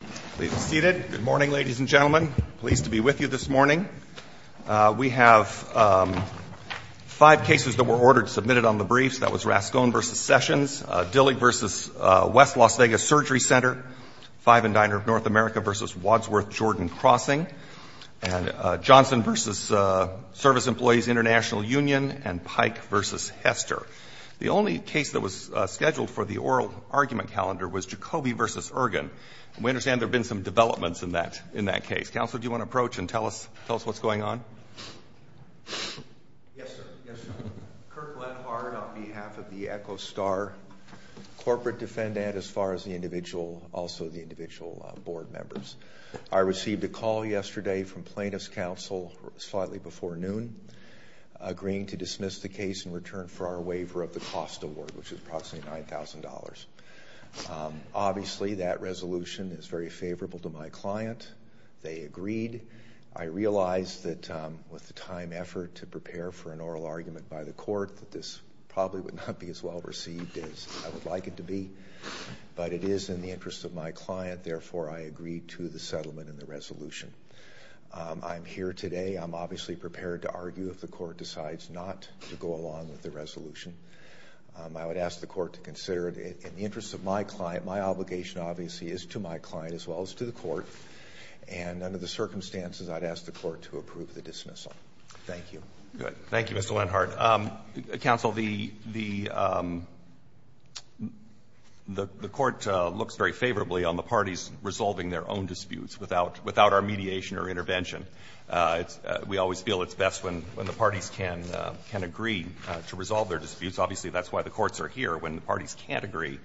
Please be seated. Good morning, ladies and gentlemen. Pleased to be with you this morning. We have five cases that were ordered, submitted on the briefs. That was Rascone v. Sessions, Dillig v. West Las Vegas Surgery Center, Five and Diner of North America v. Wadsworth Jordan Crossing, and Johnson v. Service Employees International Union, and Pike v. Hester. The only case that was scheduled for the oral argument calendar was Jacobi v. Ergen. We understand there have been some developments in that case. Counselor, do you want to approach and tell us what's going on? Yes, sir. Yes, sir. Kirk Lenhard on behalf of the ECHOSTAR corporate defendant as far as the individual, also the individual board members. I received a call yesterday from plaintiff's counsel slightly before noon agreeing to dismiss the case in return for our waiver of the cost award, which is approximately $9,000. Obviously, that resolution is very favorable to my client. They agreed. I realized that with the time, effort to prepare for an oral argument by the court, that this probably would not be as well received as I would like it to be, but it is in the interest of my client. Therefore, I agreed to the settlement and the resolution. I'm here today. I'm obviously prepared to argue if the court decides not to go along with the resolution. I would ask the court to consider it in the interest of my client. My obligation, obviously, is to my client as well as to the court. And under the circumstances, I'd ask the court to approve the dismissal. Thank you. Good. Thank you, Mr. Lenhard. Counsel, the court looks very favorably on the parties resolving their own disputes without our mediation or intervention. We always feel it's best when the parties can agree to resolve their disputes. Obviously, that's why the courts are here, when the parties can't agree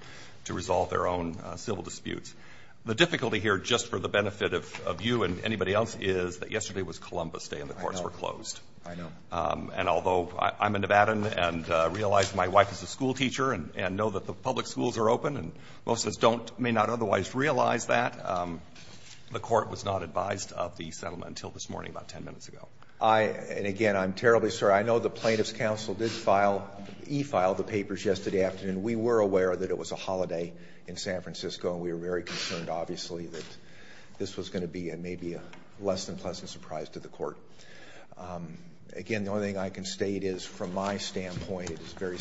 to resolve their own civil disputes. The difficulty here, just for the benefit of you and anybody else, is that yesterday was Columbus Day and the courts were closed. I know. And although I'm a Nevadan and realize my wife is a schoolteacher and know that the public schools are open, and most of us don't, may not otherwise realize that, the And, again, I'm terribly sorry. I know the Plaintiffs' Counsel did file, e-filed the papers yesterday afternoon. We were aware that it was a holiday in San Francisco, and we were very concerned, obviously, that this was going to be maybe a less than pleasant surprise to the court. Again, the only thing I can state is, from my standpoint, it is very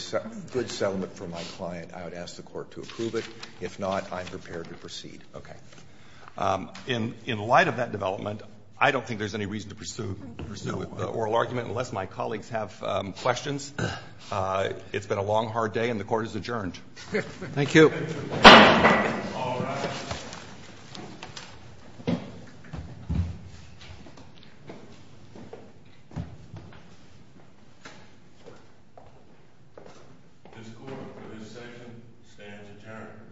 good settlement for my client. I would ask the court to approve it. If not, I'm prepared to proceed. Okay. In light of that development, I don't think there's any reason to pursue the oral argument unless my colleagues have questions. It's been a long, hard day, and the court is adjourned. Thank you. All rise. This court, for this session, stands adjourned.